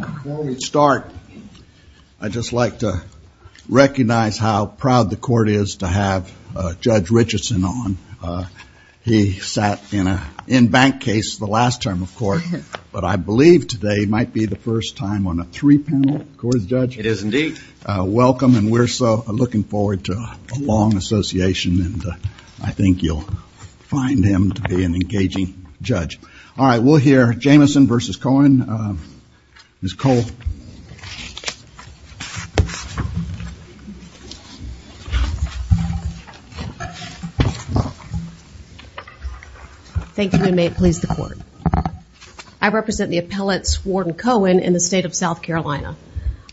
Before we start, I'd just like to recognize how proud the court is to have Judge Richardson on. He sat in bank case the last term of court, but I believe today might be the first time on a three-panel court, Judge. It is indeed. Welcome, and we're looking forward to a long association, and I think you'll find him to be an engaging judge. All right, we'll hear Jamison v. Cohen. Ms. Cole. Thank you, and may it please the court. I represent the appellate, Swarton Cohen, in the state of South Carolina.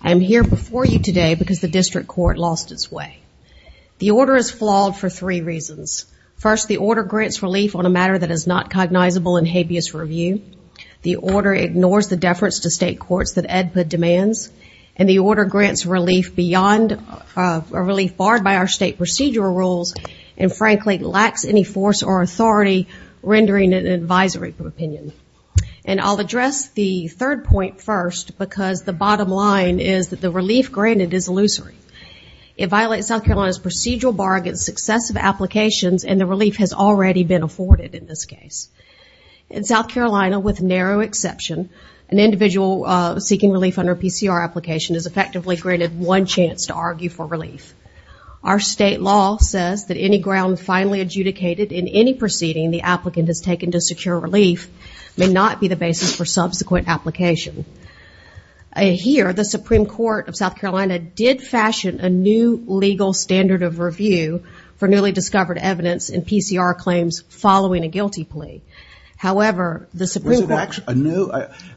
I am here before you today because the district court lost its way. The order is flawed for three reasons. First, the order grants relief on a matter that is not cognizable in habeas review. The order ignores the deference to state courts that AEDPA demands, and the order grants relief barred by our state procedural rules and, frankly, lacks any force or authority rendering it an advisory opinion. And I'll address the third point first because the bottom line is that the relief granted is illusory. It violates South Carolina's procedural bar against successive applications, and the relief has already been afforded in this case. In South Carolina, with narrow exception, an individual seeking relief under a PCR application is effectively granted one chance to argue for relief. Our state law says that any ground finally adjudicated in any proceeding the applicant has taken to secure relief may not be the basis for subsequent application. Here, the Supreme Court of South Carolina did fashion a new legal standard of review for newly discovered evidence in PCR claims following a guilty plea. However, the Supreme Court- Was it actually a new?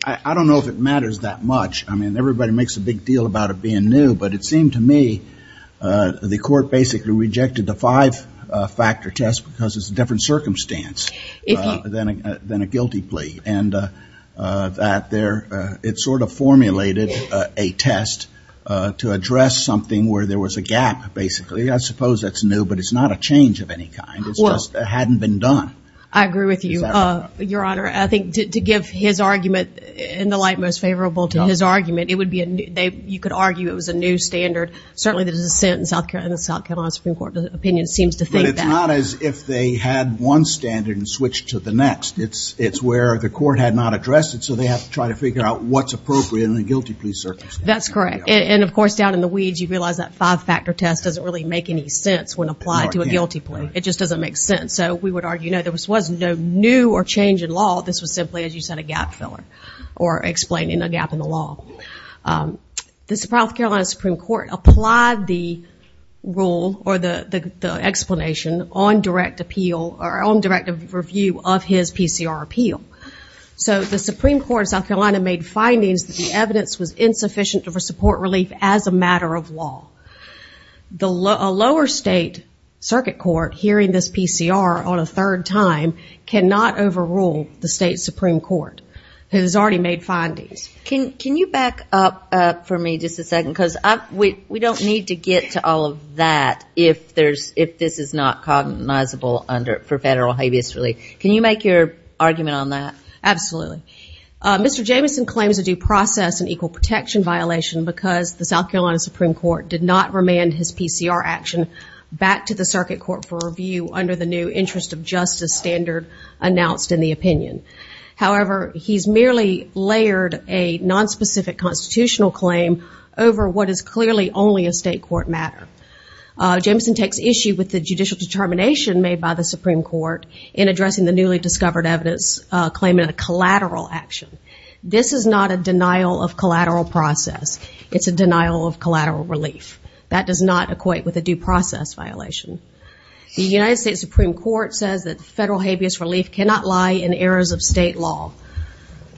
I don't know if it matters that much. I mean, everybody makes a big deal about it being new, but it seemed to me the court basically rejected the five-factor test because it's a different circumstance than a guilty plea. And it sort of formulated a test to address something where there was a gap, basically. I suppose that's new, but it's not a change of any kind. It just hadn't been done. I agree with you, Your Honor. I think to give his argument in the light most favorable to his argument, you could argue it was a new standard. Certainly the dissent in the South Carolina Supreme Court opinion seems to think that. But it's not as if they had one standard and switched to the next. It's where the court had not addressed it, so they have to try to figure out what's appropriate in a guilty plea circumstance. That's correct. And, of course, down in the weeds, you realize that five-factor test doesn't really make any sense when applied to a guilty plea. It just doesn't make sense. So we would argue, you know, there was no new or change in law. This was simply, as you said, a gap filler or explaining a gap in the law. The South Carolina Supreme Court applied the rule or the explanation on direct appeal or on direct review of his PCR appeal. So the Supreme Court of South Carolina made findings that the evidence was insufficient for support relief as a matter of law. A lower state circuit court hearing this PCR on a third time cannot overrule the state Supreme Court, who has already made findings. Can you back up for me just a second? Because we don't need to get to all of that if this is not cognizable for federal habeas relief. Can you make your argument on that? Absolutely. Mr. Jameson claims a due process and equal protection violation because the South Carolina Supreme Court did not remand his PCR action back to the circuit court for review under the new interest of justice standard announced in the opinion. However, he's merely layered a nonspecific constitutional claim over what is clearly only a state court matter. Jameson takes issue with the judicial determination made by the Supreme Court in addressing the newly discovered evidence claiming a collateral action. This is not a denial of collateral process. It's a denial of collateral relief. That does not equate with a due process violation. The United States Supreme Court says that federal habeas relief cannot lie in errors of state law.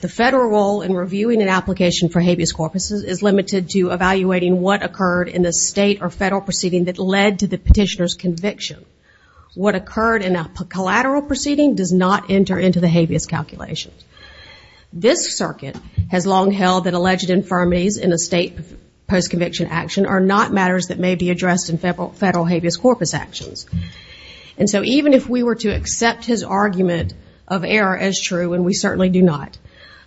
The federal role in reviewing an application for habeas corpus is limited to evaluating what occurred in the state or federal proceeding that led to the petitioner's conviction. What occurred in a collateral proceeding does not enter into the habeas calculation. This circuit has long held that alleged infirmities in a state post-conviction action are not matters that may be addressed in federal habeas corpus actions. And so even if we were to accept his argument of error as true, and we certainly do not,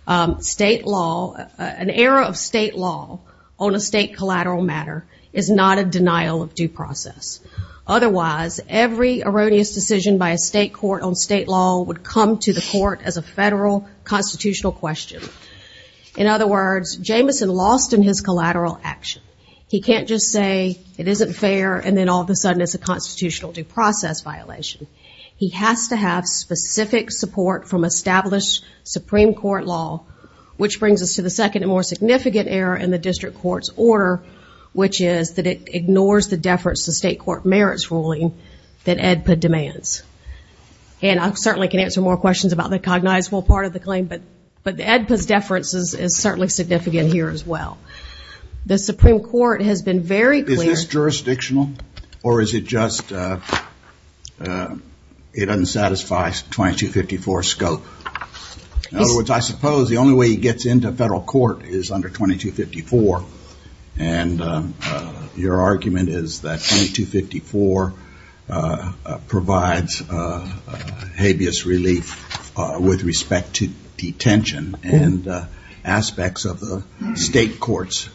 an error of state law on a state collateral matter is not a denial of due process. Otherwise, every erroneous decision by a state court on state law would come to the court as a federal constitutional question. In other words, Jameson lost in his collateral action. He can't just say it isn't fair and then all of a sudden it's a constitutional due process violation. He has to have specific support from established Supreme Court law, which brings us to the second and more significant error in the district court's order, which is that it ignores the deference to state court merits ruling that AEDPA demands. And I certainly can answer more questions about the cognizable part of the claim, but AEDPA's deference is certainly significant here as well. The Supreme Court has been very clear... Or is it just it unsatisfies 2254 scope? In other words, I suppose the only way he gets into federal court is under 2254, and your argument is that 2254 provides habeas relief with respect to detention and aspects of the state court's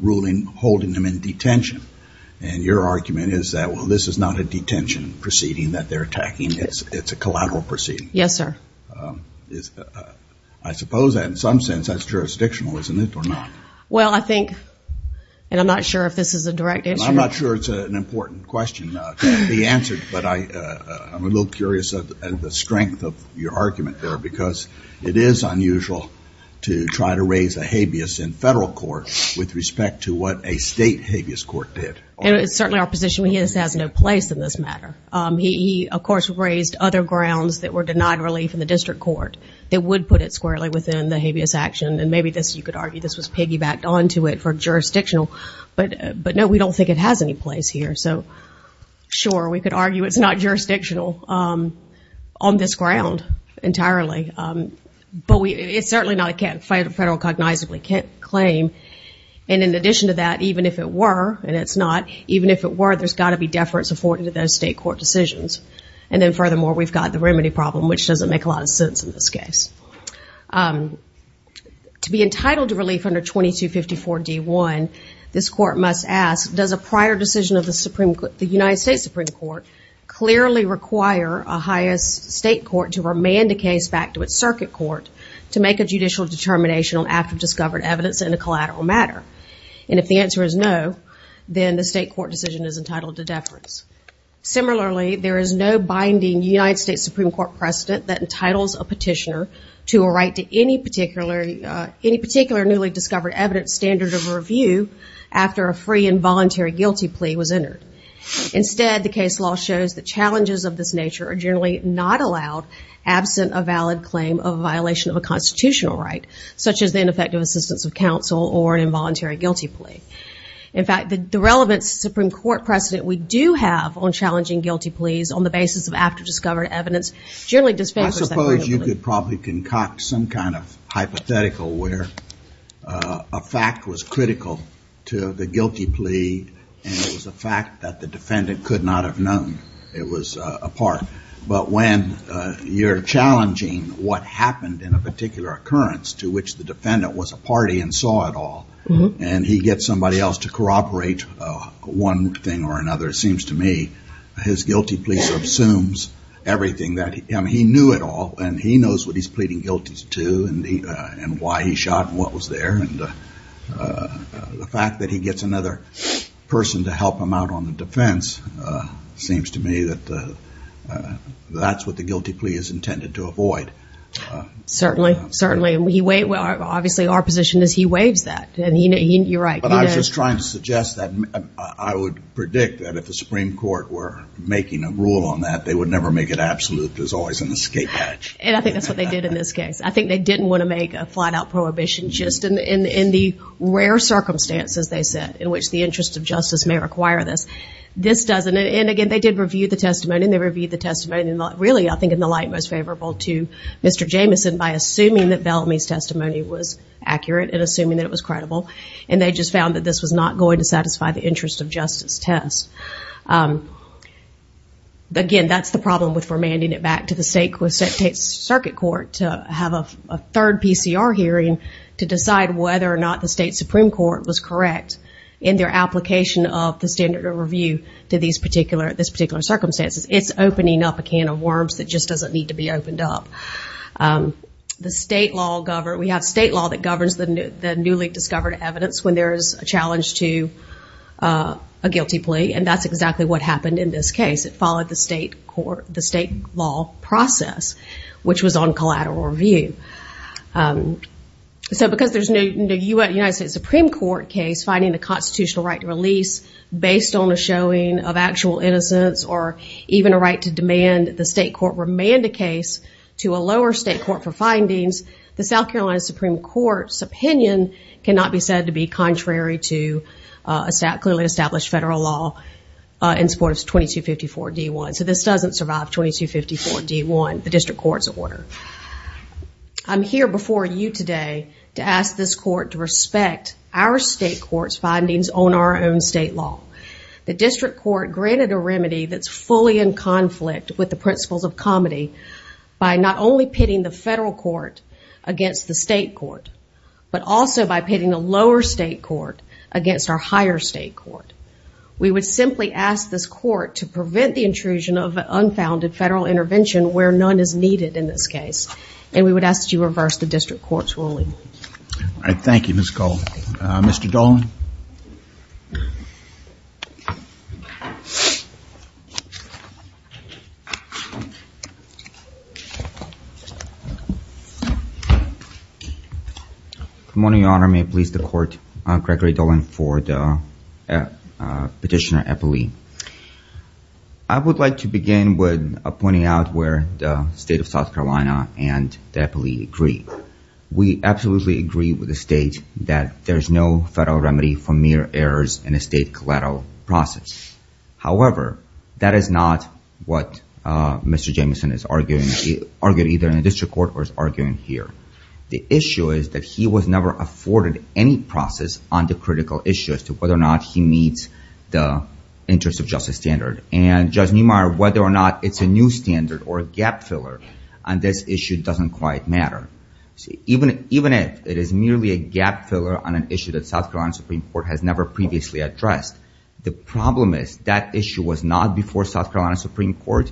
ruling holding him in detention. And your argument is that, well, this is not a detention proceeding that they're attacking, it's a collateral proceeding. Yes, sir. I suppose in some sense that's jurisdictional, isn't it, or not? Well, I think, and I'm not sure if this is a direct answer. I'm not sure it's an important question to be answered, but I'm a little curious at the strength of your argument there because it is unusual to try to raise a habeas in federal court with respect to what a state habeas court did. It's certainly our position he has no place in this matter. He, of course, raised other grounds that were denied relief in the district court that would put it squarely within the habeas action, and maybe you could argue this was piggybacked onto it for jurisdictional, but, no, we don't think it has any place here. So, sure, we could argue it's not jurisdictional on this ground entirely, but it's certainly not a federal cognizable claim. And in addition to that, even if it were, and it's not, even if it were, there's got to be deference afforded to those state court decisions. And then, furthermore, we've got the remedy problem, which doesn't make a lot of sense in this case. To be entitled to relief under 2254 D1, this court must ask, does a prior decision of the United States Supreme Court clearly require a highest state court to remand a case back to its circuit court to make a judicial determination on after-discovered evidence in a collateral matter? And if the answer is no, then the state court decision is entitled to deference. Similarly, there is no binding United States Supreme Court precedent that entitles a petitioner to a right to any particular newly-discovered evidence standard of review after a free and voluntary guilty plea was entered. Instead, the case law shows that challenges of this nature are generally not allowed absent a valid claim of a violation of a constitutional right, such as the ineffective assistance of counsel or an involuntary guilty plea. In fact, the relevant Supreme Court precedent we do have on challenging guilty pleas on the basis of after-discovered evidence generally disfavors that. I suppose you could probably concoct some kind of hypothetical where a fact was critical to the guilty plea and it was a fact that the defendant could not have known it was a part. But when you're challenging what happened in a particular occurrence to which the defendant was a party and saw it all and he gets somebody else to corroborate one thing or another, it seems to me his guilty plea sort of assumes everything. I mean, he knew it all, and he knows what he's pleading guilty to and why he shot and what was there. And the fact that he gets another person to help him out on the defense seems to me that that's what the guilty plea is intended to avoid. Certainly, certainly. Obviously, our position is he waives that, and you're right. But I was just trying to suggest that I would predict that if the Supreme Court were making a rule on that, they would never make it absolute. There's always an escape hatch. And I think that's what they did in this case. I think they didn't want to make a flat-out prohibition just in the rare circumstances, they said, in which the interest of justice may require this. This doesn't. And again, they did review the testimony, and they reviewed the testimony, and really I think in the light most favorable to Mr. Jameson by assuming that Bellamy's testimony was accurate and assuming that it was credible. And they just found that this was not going to satisfy the interest of justice test. Again, that's the problem with remanding it back to the state circuit court to have a third PCR hearing to decide whether or not the state Supreme Court was correct in their application of the standard of review to these particular circumstances. It's opening up a can of worms that just doesn't need to be opened up. We have state law that governs the newly discovered evidence when there is a challenge to a guilty plea, and that's exactly what happened in this case. It followed the state law process, which was on collateral review. So because there's no United States Supreme Court case finding the constitutional right to release based on a showing of actual innocence or even a right to demand the state court remand a case to a lower state court for findings, the South Carolina Supreme Court's opinion cannot be said to be contrary to clearly established federal law in support of 2254-D1. So this doesn't survive 2254-D1, the district court's order. I'm here before you today to ask this court to respect our state court's findings on our own state law. The district court granted a remedy that's fully in conflict with the principles of comity by not only pitting the federal court against the state court, but also by pitting a lower state court against our higher state court. We would simply ask this court to prevent the intrusion of an unfounded federal intervention where none is needed in this case, and we would ask that you reverse the district court's ruling. All right, thank you, Ms. Gold. Mr. Dolan? Good morning, Your Honor. May it please the court, Gregory Dolan, for the petitioner Eppley. I would like to begin with pointing out where the state of South Carolina and the Eppley agree. We absolutely agree with the state that there's no federal remedy for mere errors in a state collateral process. However, that is not what Mr. Jameson is arguing, either in the district court or is arguing here. The issue is that he was never afforded any process on the critical issue as to whether or not he meets the interest of justice standard. And Judge Neumeier, whether or not it's a new standard or a gap filler on this issue doesn't quite matter. Even if it is merely a gap filler on an issue that South Carolina Supreme Court has never previously addressed, the problem is that issue was not before South Carolina Supreme Court.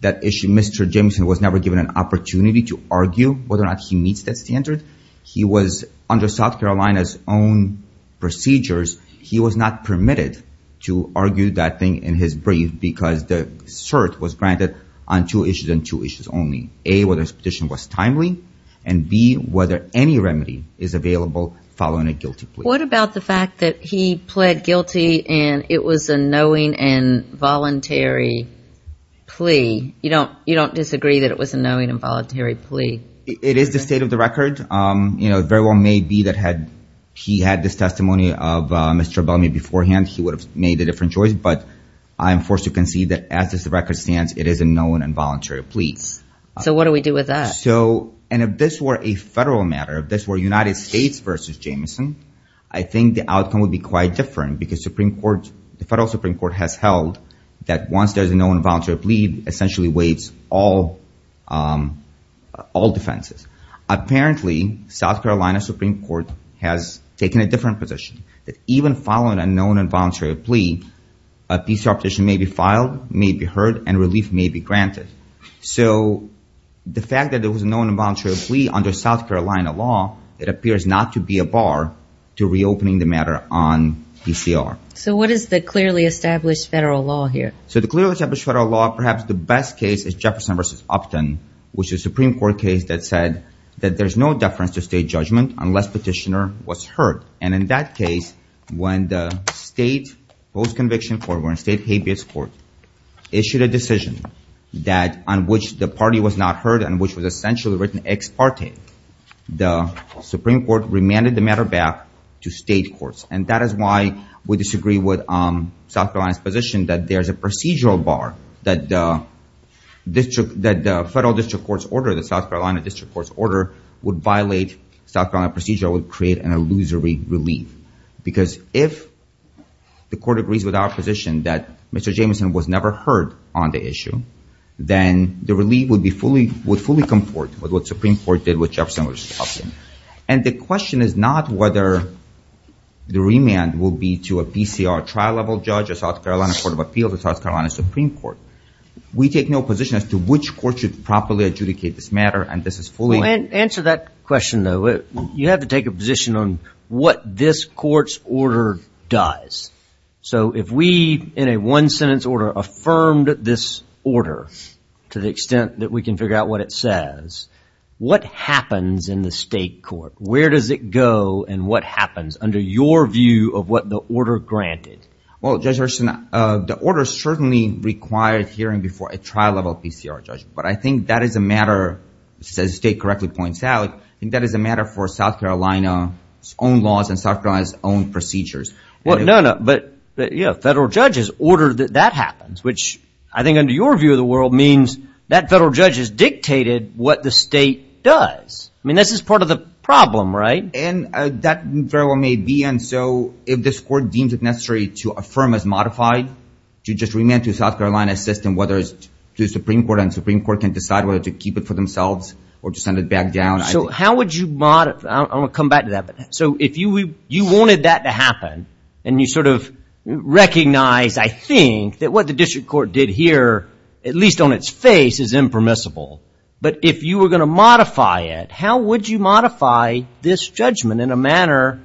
That issue, Mr. Jameson was never given an opportunity to argue whether or not he meets that standard. He was under South Carolina's own procedures. He was not permitted to argue that thing in his brief because the cert was granted on two issues and two issues only. A, whether his petition was timely, and B, whether any remedy is available following a guilty plea. What about the fact that he pled guilty and it was a knowing and voluntary plea? You don't disagree that it was a knowing and voluntary plea? It is the state of the record. It very well may be that had he had this testimony of Mr. Bellamy beforehand, he would have made a different choice, but I am forced to concede that as the record stands, it is a knowing and voluntary plea. So what do we do with that? And if this were a federal matter, if this were United States versus Jameson, I think the outcome would be quite different because the federal Supreme Court has held that once there's a knowing and voluntary plea, it essentially weights all defenses. Apparently, South Carolina Supreme Court has taken a different position, that even following a knowing and voluntary plea, a PCR petition may be filed, may be heard, and relief may be granted. So the fact that it was a knowing and voluntary plea under South Carolina law, it appears not to be a bar to reopening the matter on PCR. So what is the clearly established federal law here? So the clearly established federal law, perhaps the best case is Jefferson versus Upton, which is a Supreme Court case that said that there's no deference to state judgment unless petitioner was heard. And in that case, when the state post-conviction court, we're in state habeas court, issued a decision on which the party was not heard and which was essentially written ex parte, the Supreme Court remanded the matter back to state courts. And that is why we disagree with South Carolina's position that there's a procedural bar, that the federal district court's order, the South Carolina district court's order, would violate South Carolina procedural, would create an illusory relief. Because if the court agrees with our position that Mr. Jameson was never heard on the issue, then the relief would fully comport with what Supreme Court did with Jefferson versus Upton. And the question is not whether the remand will be to a PCR trial-level judge, a South Carolina Court of Appeals, a South Carolina Supreme Court. We take no position as to which court should properly adjudicate this matter, and this is fully... Well, answer that question, though. You have to take a position on what this court's order does. So if we, in a one-sentence order, affirmed this order to the extent that we can figure out what it says, what happens in the state court? Where does it go, and what happens, under your view of what the order granted? Well, Judge Hurston, the order certainly required hearing before a trial-level PCR judge. But I think that is a matter, as the state correctly points out, I think that is a matter for South Carolina's own laws and South Carolina's own procedures. Well, no, no. But, you know, federal judges ordered that that happens, which I think under your view of the world means that federal judges dictated what the state does. I mean, this is part of the problem, right? And that very well may be. Again, so if this court deems it necessary to affirm as modified, to just remand to South Carolina's system, whether it's to the Supreme Court, and the Supreme Court can decide whether to keep it for themselves or to send it back down. So how would you modify it? I'm going to come back to that. So if you wanted that to happen, and you sort of recognized, I think, that what the district court did here, at least on its face, is impermissible, but if you were going to modify it, how would you modify this judgment in a manner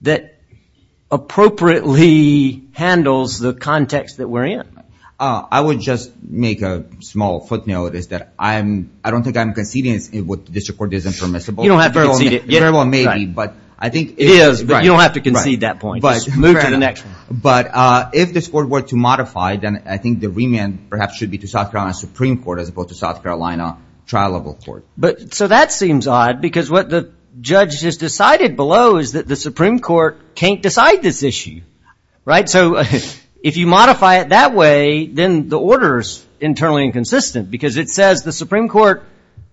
that appropriately handles the context that we're in? I would just make a small footnote is that I don't think I'm conceding what the district court is impermissible. You don't have to concede it. It very well may be, but I think it is. It is, but you don't have to concede that point. Just move to the next one. But if this court were to modify, then I think the remand perhaps should be to South Carolina's Supreme Court as opposed to South Carolina trial level court. So that seems odd, because what the judge has decided below is that the Supreme Court can't decide this issue. So if you modify it that way, then the order is internally inconsistent, because it says the Supreme Court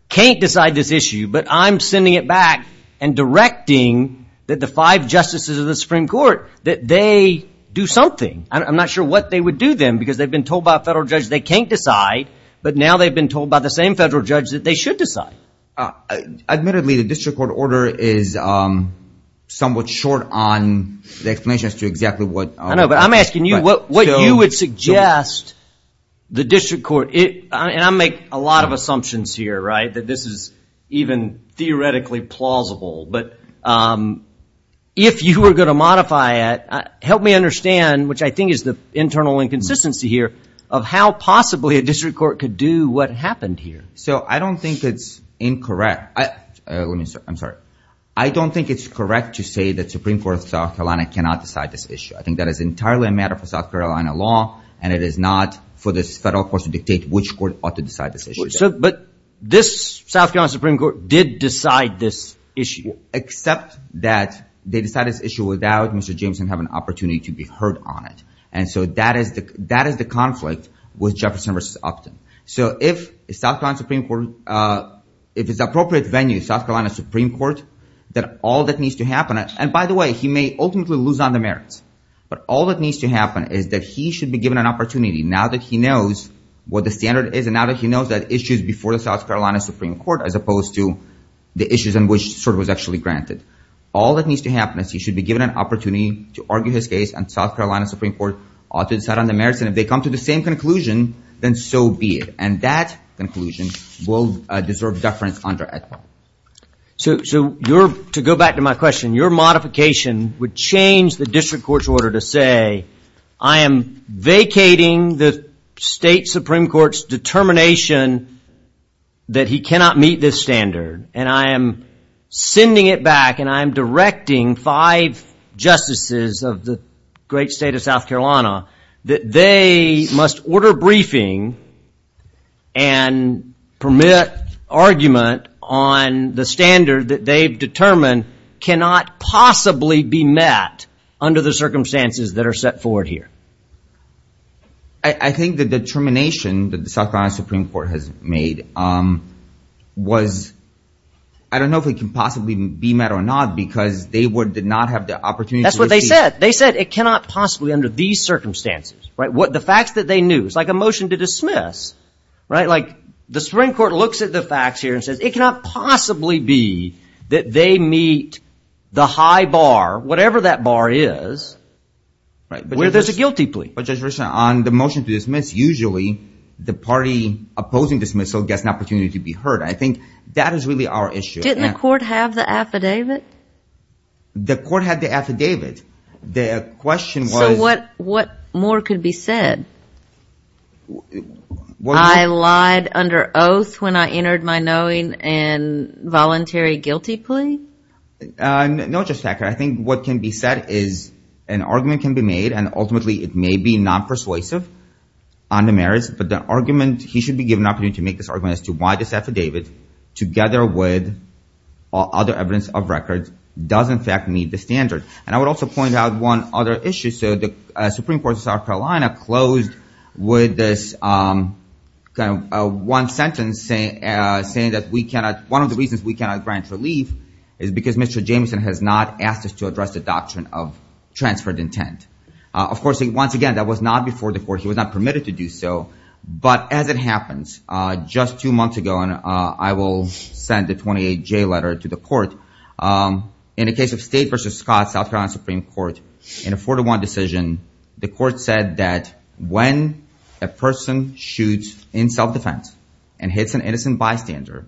can't decide this issue, but I'm sending it back and directing that the five justices of the Supreme Court, that they do something. I'm not sure what they would do then, because they've been told by a federal judge they can't decide, but now they've been told by the same federal judge that they should decide. Admittedly, the district court order is somewhat short on the explanation as to exactly what. I know, but I'm asking you what you would suggest the district court, and I make a lot of assumptions here, right, that this is even theoretically plausible. But if you were going to modify it, help me understand, which I think is the internal inconsistency here, of how possibly a district court could do what happened here. So I don't think it's incorrect. I'm sorry. I don't think it's correct to say that the Supreme Court of South Carolina cannot decide this issue. I think that is entirely a matter for South Carolina law, and it is not for this federal court to dictate which court ought to decide this issue. But this South Carolina Supreme Court did decide this issue. Except that they decided this issue without Mr. Jameson having an opportunity to be heard on it. And so that is the conflict with Jefferson v. Upton. So if South Carolina Supreme Court, if it's appropriate venue, South Carolina Supreme Court, that all that needs to happen, and by the way, he may ultimately lose on the merits, but all that needs to happen is that he should be given an opportunity, now that he knows what the standard is and now that he knows that issues before the South Carolina Supreme Court as opposed to the issues in which sort of was actually granted. All that needs to happen is he should be given an opportunity to argue his case, and South Carolina Supreme Court ought to decide on the merits, and if they come to the same conclusion, then so be it. And that conclusion will deserve deference under it. So to go back to my question, your modification would change the district court's order to say, I am vacating the state Supreme Court's determination that he cannot meet this standard, and I am sending it back, and I am directing five justices of the great state of South Carolina that they must order briefing and permit argument on the standard that they've determined cannot possibly be met under the circumstances that are set forward here. I think the determination that the South Carolina Supreme Court has made was, I don't know if it can possibly be met or not, because they did not have the opportunity to receive. That's what they said. They said it cannot possibly under these circumstances. The facts that they knew. It's like a motion to dismiss. Like the Supreme Court looks at the facts here and says, it cannot possibly be that they meet the high bar, whatever that bar is, where there's a guilty plea. On the motion to dismiss, usually the party opposing dismissal gets an opportunity to be heard. I think that is really our issue. Didn't the court have the affidavit? The court had the affidavit. The question was. So what more could be said? I lied under oath when I entered my knowing and voluntary guilty plea? No, Justice Packard. I think what can be said is an argument can be made, and ultimately it may be non-persuasive on the merits, but the argument, he should be given an opportunity to make this argument as to why this affidavit, together with other evidence of records, does in fact meet the standard. And I would also point out one other issue. So the Supreme Court of South Carolina closed with this one sentence, saying that one of the reasons we cannot grant relief is because Mr. Jameson has not asked us to address the doctrine of transferred intent. Of course, once again, that was not before the court. He was not permitted to do so. But as it happens, just two months ago, and I will send a 28-J letter to the court, in the case of State v. Scott, South Carolina Supreme Court, in a four-to-one decision, the court said that when a person shoots in self-defense and hits an innocent bystander,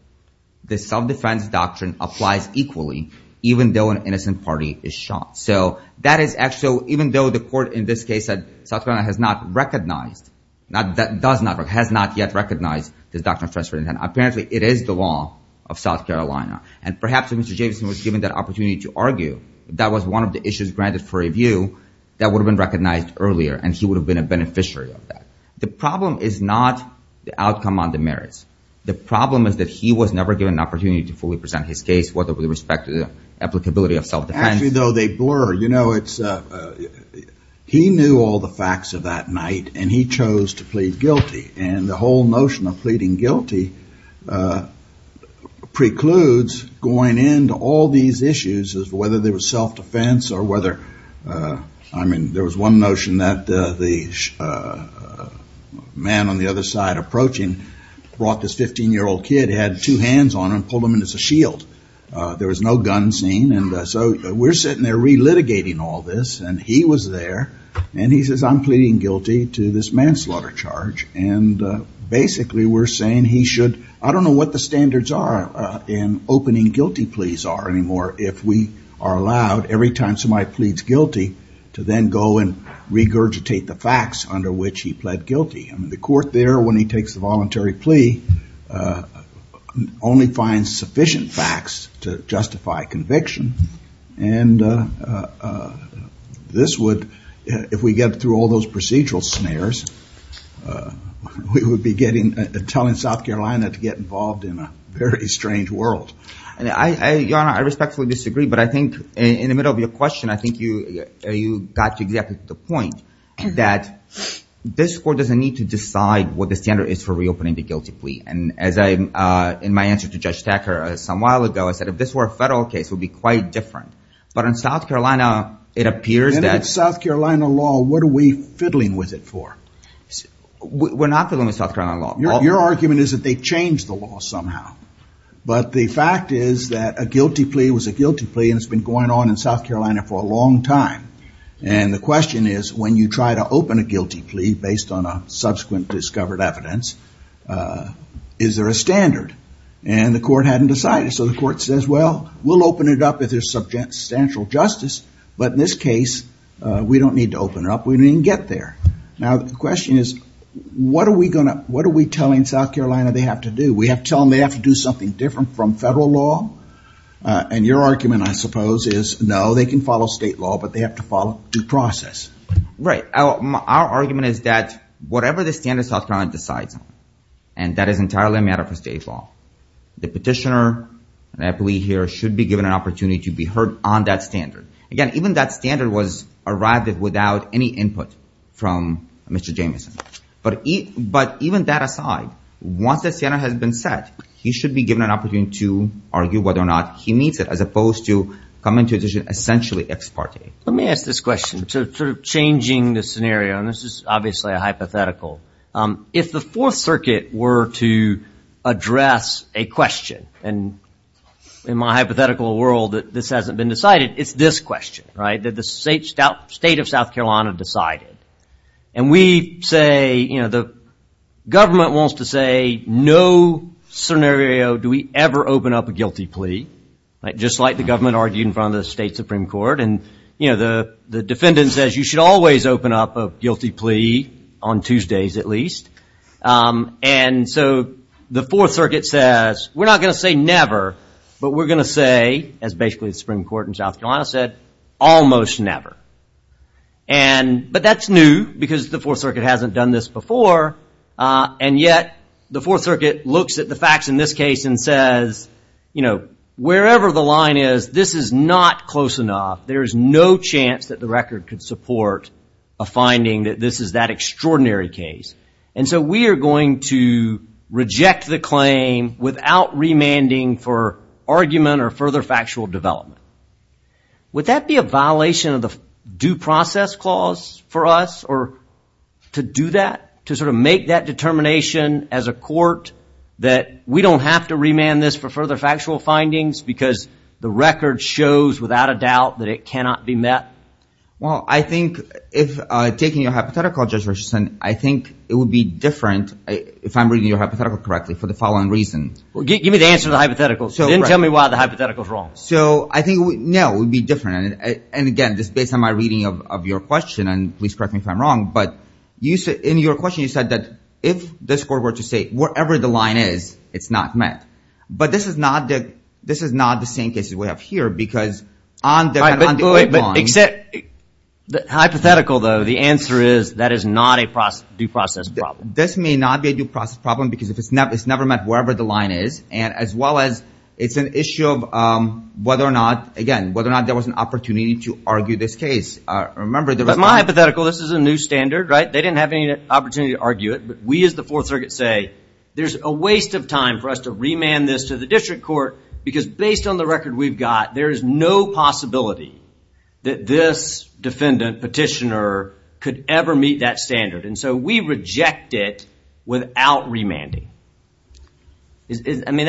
the self-defense doctrine applies equally, even though an innocent party is shot. So even though the court in this case said South Carolina has not recognized, has not yet recognized this doctrine of transferred intent, apparently it is the law of South Carolina. And perhaps if Mr. Jameson was given that opportunity to argue, that was one of the issues granted for review that would have been recognized earlier, and he would have been a beneficiary of that. The problem is not the outcome on the merits. The problem is that he was never given an opportunity to fully present his case, whether with respect to the applicability of self-defense. Actually, though, they blur. He knew all the facts of that night, and he chose to plead guilty, and the whole notion of pleading guilty precludes going into all these issues as to whether there was self-defense or whether, I mean, there was one notion that the man on the other side approaching brought this 15-year-old kid, had two hands on him and pulled him in as a shield. There was no gun scene, and so we're sitting there relitigating all this, and he was there, and he says, I'm pleading guilty to this manslaughter charge, and basically we're saying he should, I don't know what the standards are in opening guilty pleas are anymore if we are allowed every time somebody pleads guilty to then go and regurgitate the facts under which he pled guilty. I mean, the court there, when he takes the voluntary plea, only finds sufficient facts to justify conviction, and this would, if we get through all those procedural snares, we would be telling South Carolina to get involved in a very strange world. Your Honor, I respectfully disagree, but I think in the middle of your question, I think you got to exactly the point that this court doesn't need to decide what the standard is for reopening the guilty plea, and as I, in my answer to Judge Thacker some while ago, I said if this were a federal case, it would be quite different, but in South Carolina, it appears that- In South Carolina law, what are we fiddling with it for? We're not fiddling with South Carolina law. Your argument is that they changed the law somehow, but the fact is that a guilty plea was a guilty plea, and it's been going on in South Carolina for a long time, and the question is, when you try to open a guilty plea based on a subsequent discovered evidence, is there a standard? And the court hadn't decided, so the court says, well, we'll open it up if there's substantial justice, but in this case, we don't need to open it up. We didn't even get there. Now, the question is, what are we telling South Carolina they have to do? We have to tell them they have to do something different from federal law, and your argument, I suppose, is, no, they can follow state law, but they have to follow due process. Right. Our argument is that whatever the standard South Carolina decides on, and that is entirely a matter for state law, the petitioner, and I believe here, should be given an opportunity to be heard on that standard. Again, even that standard was arrived at without any input from Mr. Jamieson, but even that aside, once the standard has been set, he should be given an opportunity to argue whether or not he needs it, as opposed to coming to a decision essentially ex parte. Let me ask this question, sort of changing the scenario, and this is obviously a hypothetical. If the Fourth Circuit were to address a question, and in my hypothetical world, this hasn't been decided, it's this question, right, that the state of South Carolina decided, and we say, you know, the government wants to say, no scenario do we ever open up a guilty plea, just like the government argued in front of the state Supreme Court, and, you know, the defendant says, you should always open up a guilty plea, on Tuesdays at least, and so the Fourth Circuit says, we're not going to say never, but we're going to say, as basically the Supreme Court in South Carolina said, almost never, but that's new, because the Fourth Circuit hasn't done this before, and yet the Fourth Circuit looks at the facts in this case and says, you know, wherever the line is, this is not close enough, there is no chance that the record could support a finding that this is that extraordinary case, and so we are going to reject the claim without remanding for argument or further factual development. Would that be a violation of the due process clause for us, or to do that, to sort of make that determination as a court, that we don't have to remand this for further factual findings, because the record shows without a doubt that it cannot be met? Well, I think, taking your hypothetical, Judge Richardson, I think it would be different, if I'm reading your hypothetical correctly, for the following reasons. Give me the answer to the hypothetical, then tell me why the hypothetical is wrong. So, I think, no, it would be different, and again, just based on my reading of your question, and please correct me if I'm wrong, but in your question you said that if this court were to say wherever the line is, it's not met. But this is not the same case that we have here, because on the underlying... Except hypothetical, though, the answer is, that is not a due process problem. This may not be a due process problem, because it's never met wherever the line is, and as well as, it's an issue of whether or not, again, whether or not there was an opportunity to argue this case. But my hypothetical, this is a new standard, right? They didn't have any opportunity to argue it, but we as the Fourth Circuit say, there's a waste of time for us to remand this to the district court, because based on the record we've got, there is no possibility that this defendant, petitioner, could ever meet that standard, and so we reject it without remanding. I mean,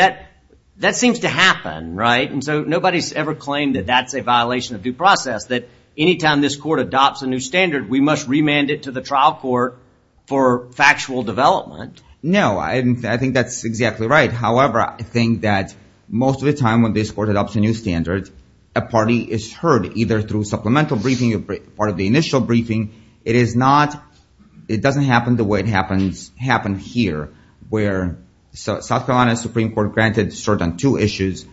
that seems to happen, right? And so nobody's ever claimed that that's a violation of due process, that any time this court adopts a new standard, we must remand it to the trial court for factual development. No, I think that's exactly right. However, I think that most of the time when this court adopts a new standard, a party is heard, either through supplemental briefing or part of the initial briefing. It is not, it doesn't happen the way it happened here, where South Carolina Supreme Court granted cert on two issues.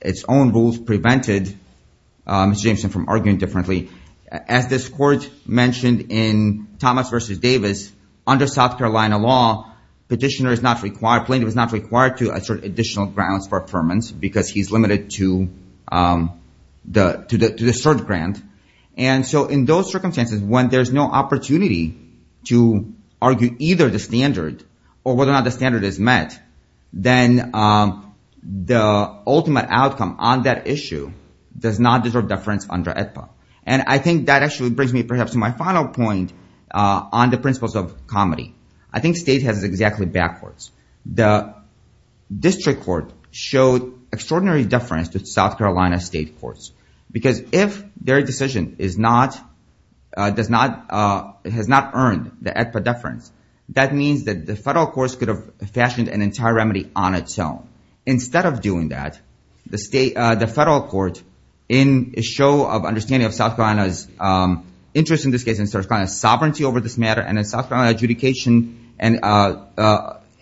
Its own rules prevented Mr. Jameson from arguing differently. As this court mentioned in Thomas v. Davis, under South Carolina law, petitioner is not required, plaintiff is not required to assert additional grounds for affirmance because he's limited to the cert grant. And so in those circumstances, when there's no opportunity to argue either the standard or whether or not the standard is met, then the ultimate outcome on that issue does not deserve deference under AEDPA. And I think that actually brings me perhaps to my final point on the principles of comedy. I think state has exactly backwards. The district court showed extraordinary deference to South Carolina state courts because if their decision is not, does not, has not earned the AEDPA deference, that means that the federal courts could have fashioned an entire remedy on its own. Instead of doing that, the federal court, in a show of understanding of South Carolina's interest in this case and South Carolina's sovereignty over this matter and in South Carolina adjudication and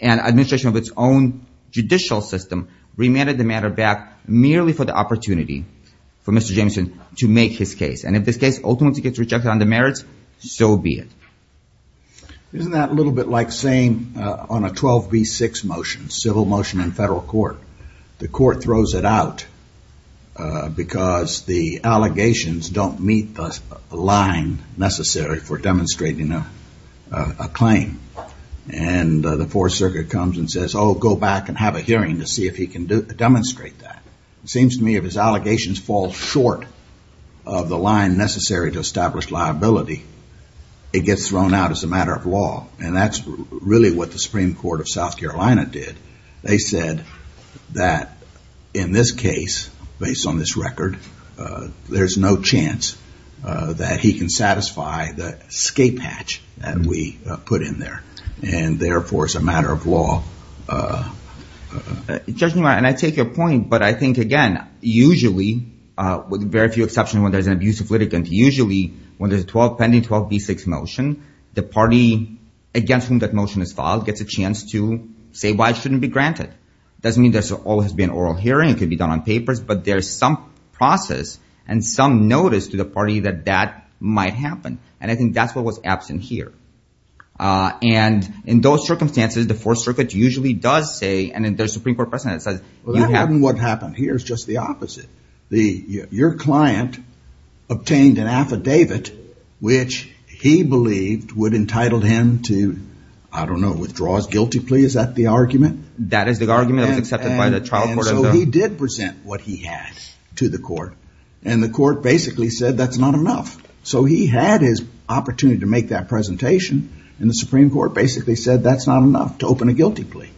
administration of its own judicial system, remanded the matter back merely for the opportunity for Mr. Jameson to make his case. And if this case ultimately gets rejected under merits, so be it. Isn't that a little bit like saying on a 12b6 motion, civil motion in federal court, the court throws it out because the allegations don't meet the line necessary for demonstrating a claim. And the Fourth Circuit comes and says, oh, go back and have a hearing to see if he can demonstrate that. It seems to me if his allegations fall short of the line necessary to establish liability, it gets thrown out as a matter of law. And that's really what the Supreme Court of South Carolina did. They said that in this case, based on this record, there's no chance that he can satisfy the escape hatch that we put in there. And therefore, it's a matter of law. And I take your point, but I think, again, usually, with very few exceptions when there's an abusive litigant, usually when there's a 12 pending 12b6 motion, the party against whom that motion is filed gets a chance to say why it shouldn't be granted. It doesn't mean there always has to be an oral hearing. It could be done on papers. But there's some process and some notice to the party that that might happen. And I think that's what was absent here. And in those circumstances, the Fourth Circuit usually does say, and if there's a Supreme Court precedent that says you have to- Well, that's not what happened here. It's just the opposite. Your client obtained an affidavit which he believed would entitle him to, I don't know, withdraw his guilty plea. Is that the argument? That is the argument that was accepted by the trial court. And so he did present what he had to the court. And the court basically said that's not enough. So he had his opportunity to make that presentation, and the Supreme Court basically said that's not enough to open a guilty plea.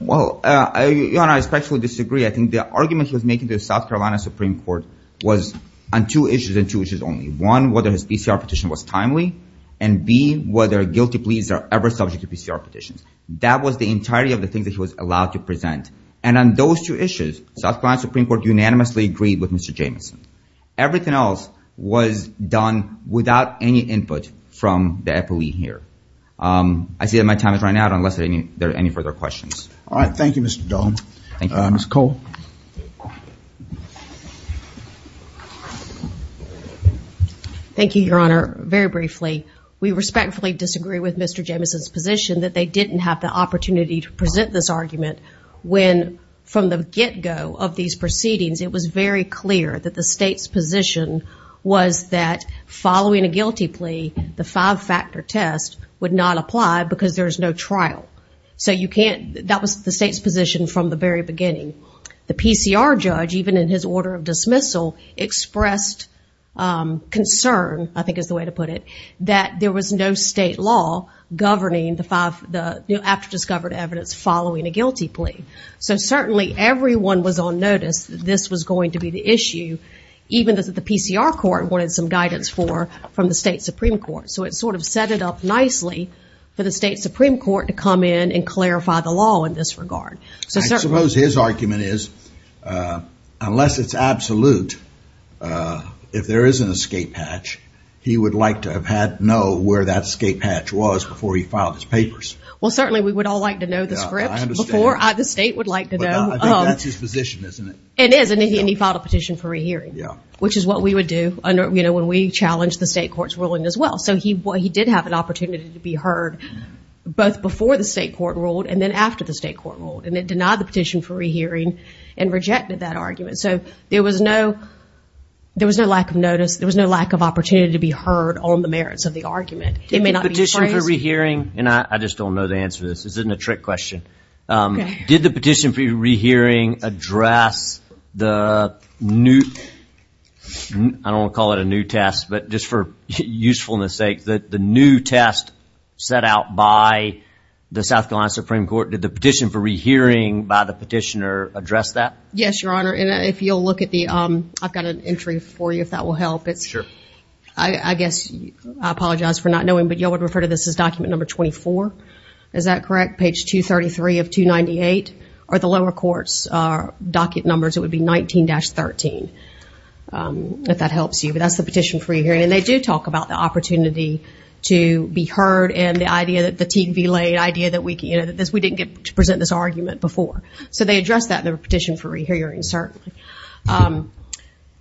Well, Your Honor, I especially disagree. I think the argument he was making to the South Carolina Supreme Court was on two issues and two issues only. One, whether his PCR petition was timely. And, B, whether guilty pleas are ever subject to PCR petitions. That was the entirety of the things that he was allowed to present. And on those two issues, South Carolina Supreme Court unanimously agreed with Mr. Jamieson. Everything else was done without any input from the FOE here. I see that my time has run out unless there are any further questions. All right. Thank you, Mr. Dahl. Thank you, Your Honor. Ms. Cole. Thank you, Your Honor. Very briefly, we respectfully disagree with Mr. Jamieson's position that they didn't have the opportunity to present this argument when from the get-go of these proceedings it was very clear that the state's position was that following a guilty plea, the five-factor test would not apply because there is no trial. So that was the state's position from the very beginning. The PCR judge, even in his order of dismissal, expressed concern, I think is the way to put it, that there was no state law governing the after-discovered evidence following a guilty plea. So certainly everyone was on notice that this was going to be the issue, even though the PCR court wanted some guidance from the state Supreme Court. So it sort of set it up nicely for the state Supreme Court to come in and clarify the law in this regard. I suppose his argument is unless it's absolute, if there is an escape hatch, he would like to have had to know where that escape hatch was before he filed his papers. Well, certainly we would all like to know the script before the state would like to know. I think that's his position, isn't it? It is, and he filed a petition for rehearing, which is what we would do when we challenge the state court's ruling as well. So he did have an opportunity to be heard both before the state court ruled and then after the state court ruled, and it denied the petition for rehearing and rejected that argument. So there was no lack of notice. There was no lack of opportunity to be heard on the merits of the argument. Did the petition for rehearing, and I just don't know the answer to this. This isn't a trick question. Did the petition for rehearing address the new, I don't want to call it a new test, but just for usefulness sake, the new test set out by the South Carolina Supreme Court, did the petition for rehearing by the petitioner address that? Yes, Your Honor, and if you'll look at the, I've got an entry for you if that will help. Sure. I guess, I apologize for not knowing, but you all would refer to this as document number 24. Is that correct, page 233 of 298? Or the lower court's docket numbers, it would be 19-13, if that helps you. That's the petition for rehearing, and they do talk about the opportunity to be heard and the idea that the TV laid, the idea that we didn't get to present this argument before. So they addressed that in the petition for rehearing, certainly.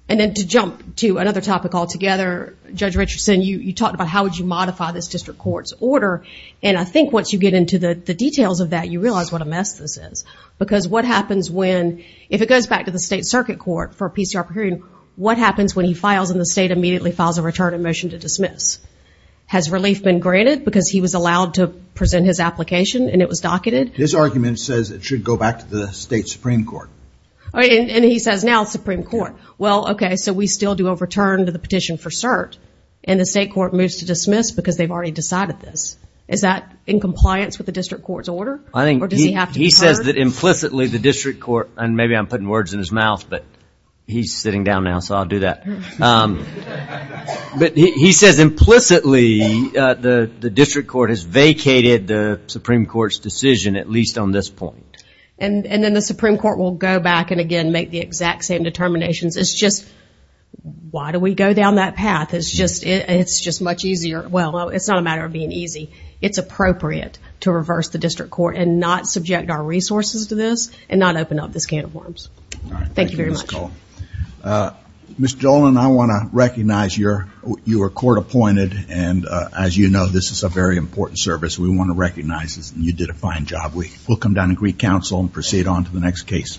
And then to jump to another topic altogether, Judge Richardson, you talked about how would you modify this district court's order, and I think once you get into the details of that, you realize what a mess this is. Because what happens when, if it goes back to the state circuit court for PCR pre-hearing, what happens when he files and the state immediately files a return of motion to dismiss? Has relief been granted because he was allowed to present his application and it was docketed? His argument says it should go back to the state supreme court. And he says now supreme court. Well, okay, so we still do a return to the petition for cert, and the state court moves to dismiss because they've already decided this. Is that in compliance with the district court's order? I think he says that implicitly the district court, and maybe I'm putting words in his mouth, but he's sitting down now, so I'll do that. But he says implicitly the district court has vacated the supreme court's decision, at least on this point. And then the supreme court will go back and, again, make the exact same determinations. It's just why do we go down that path? It's just much easier. Well, it's not a matter of being easy. It's appropriate to reverse the district court and not subject our resources to this and not open up this can of worms. All right. Thank you very much. Thank you for this call. Ms. Dolan, I want to recognize you were court appointed, and as you know, this is a very important service. We want to recognize this, and you did a fine job. We'll come down and recounsel and proceed on to the next case.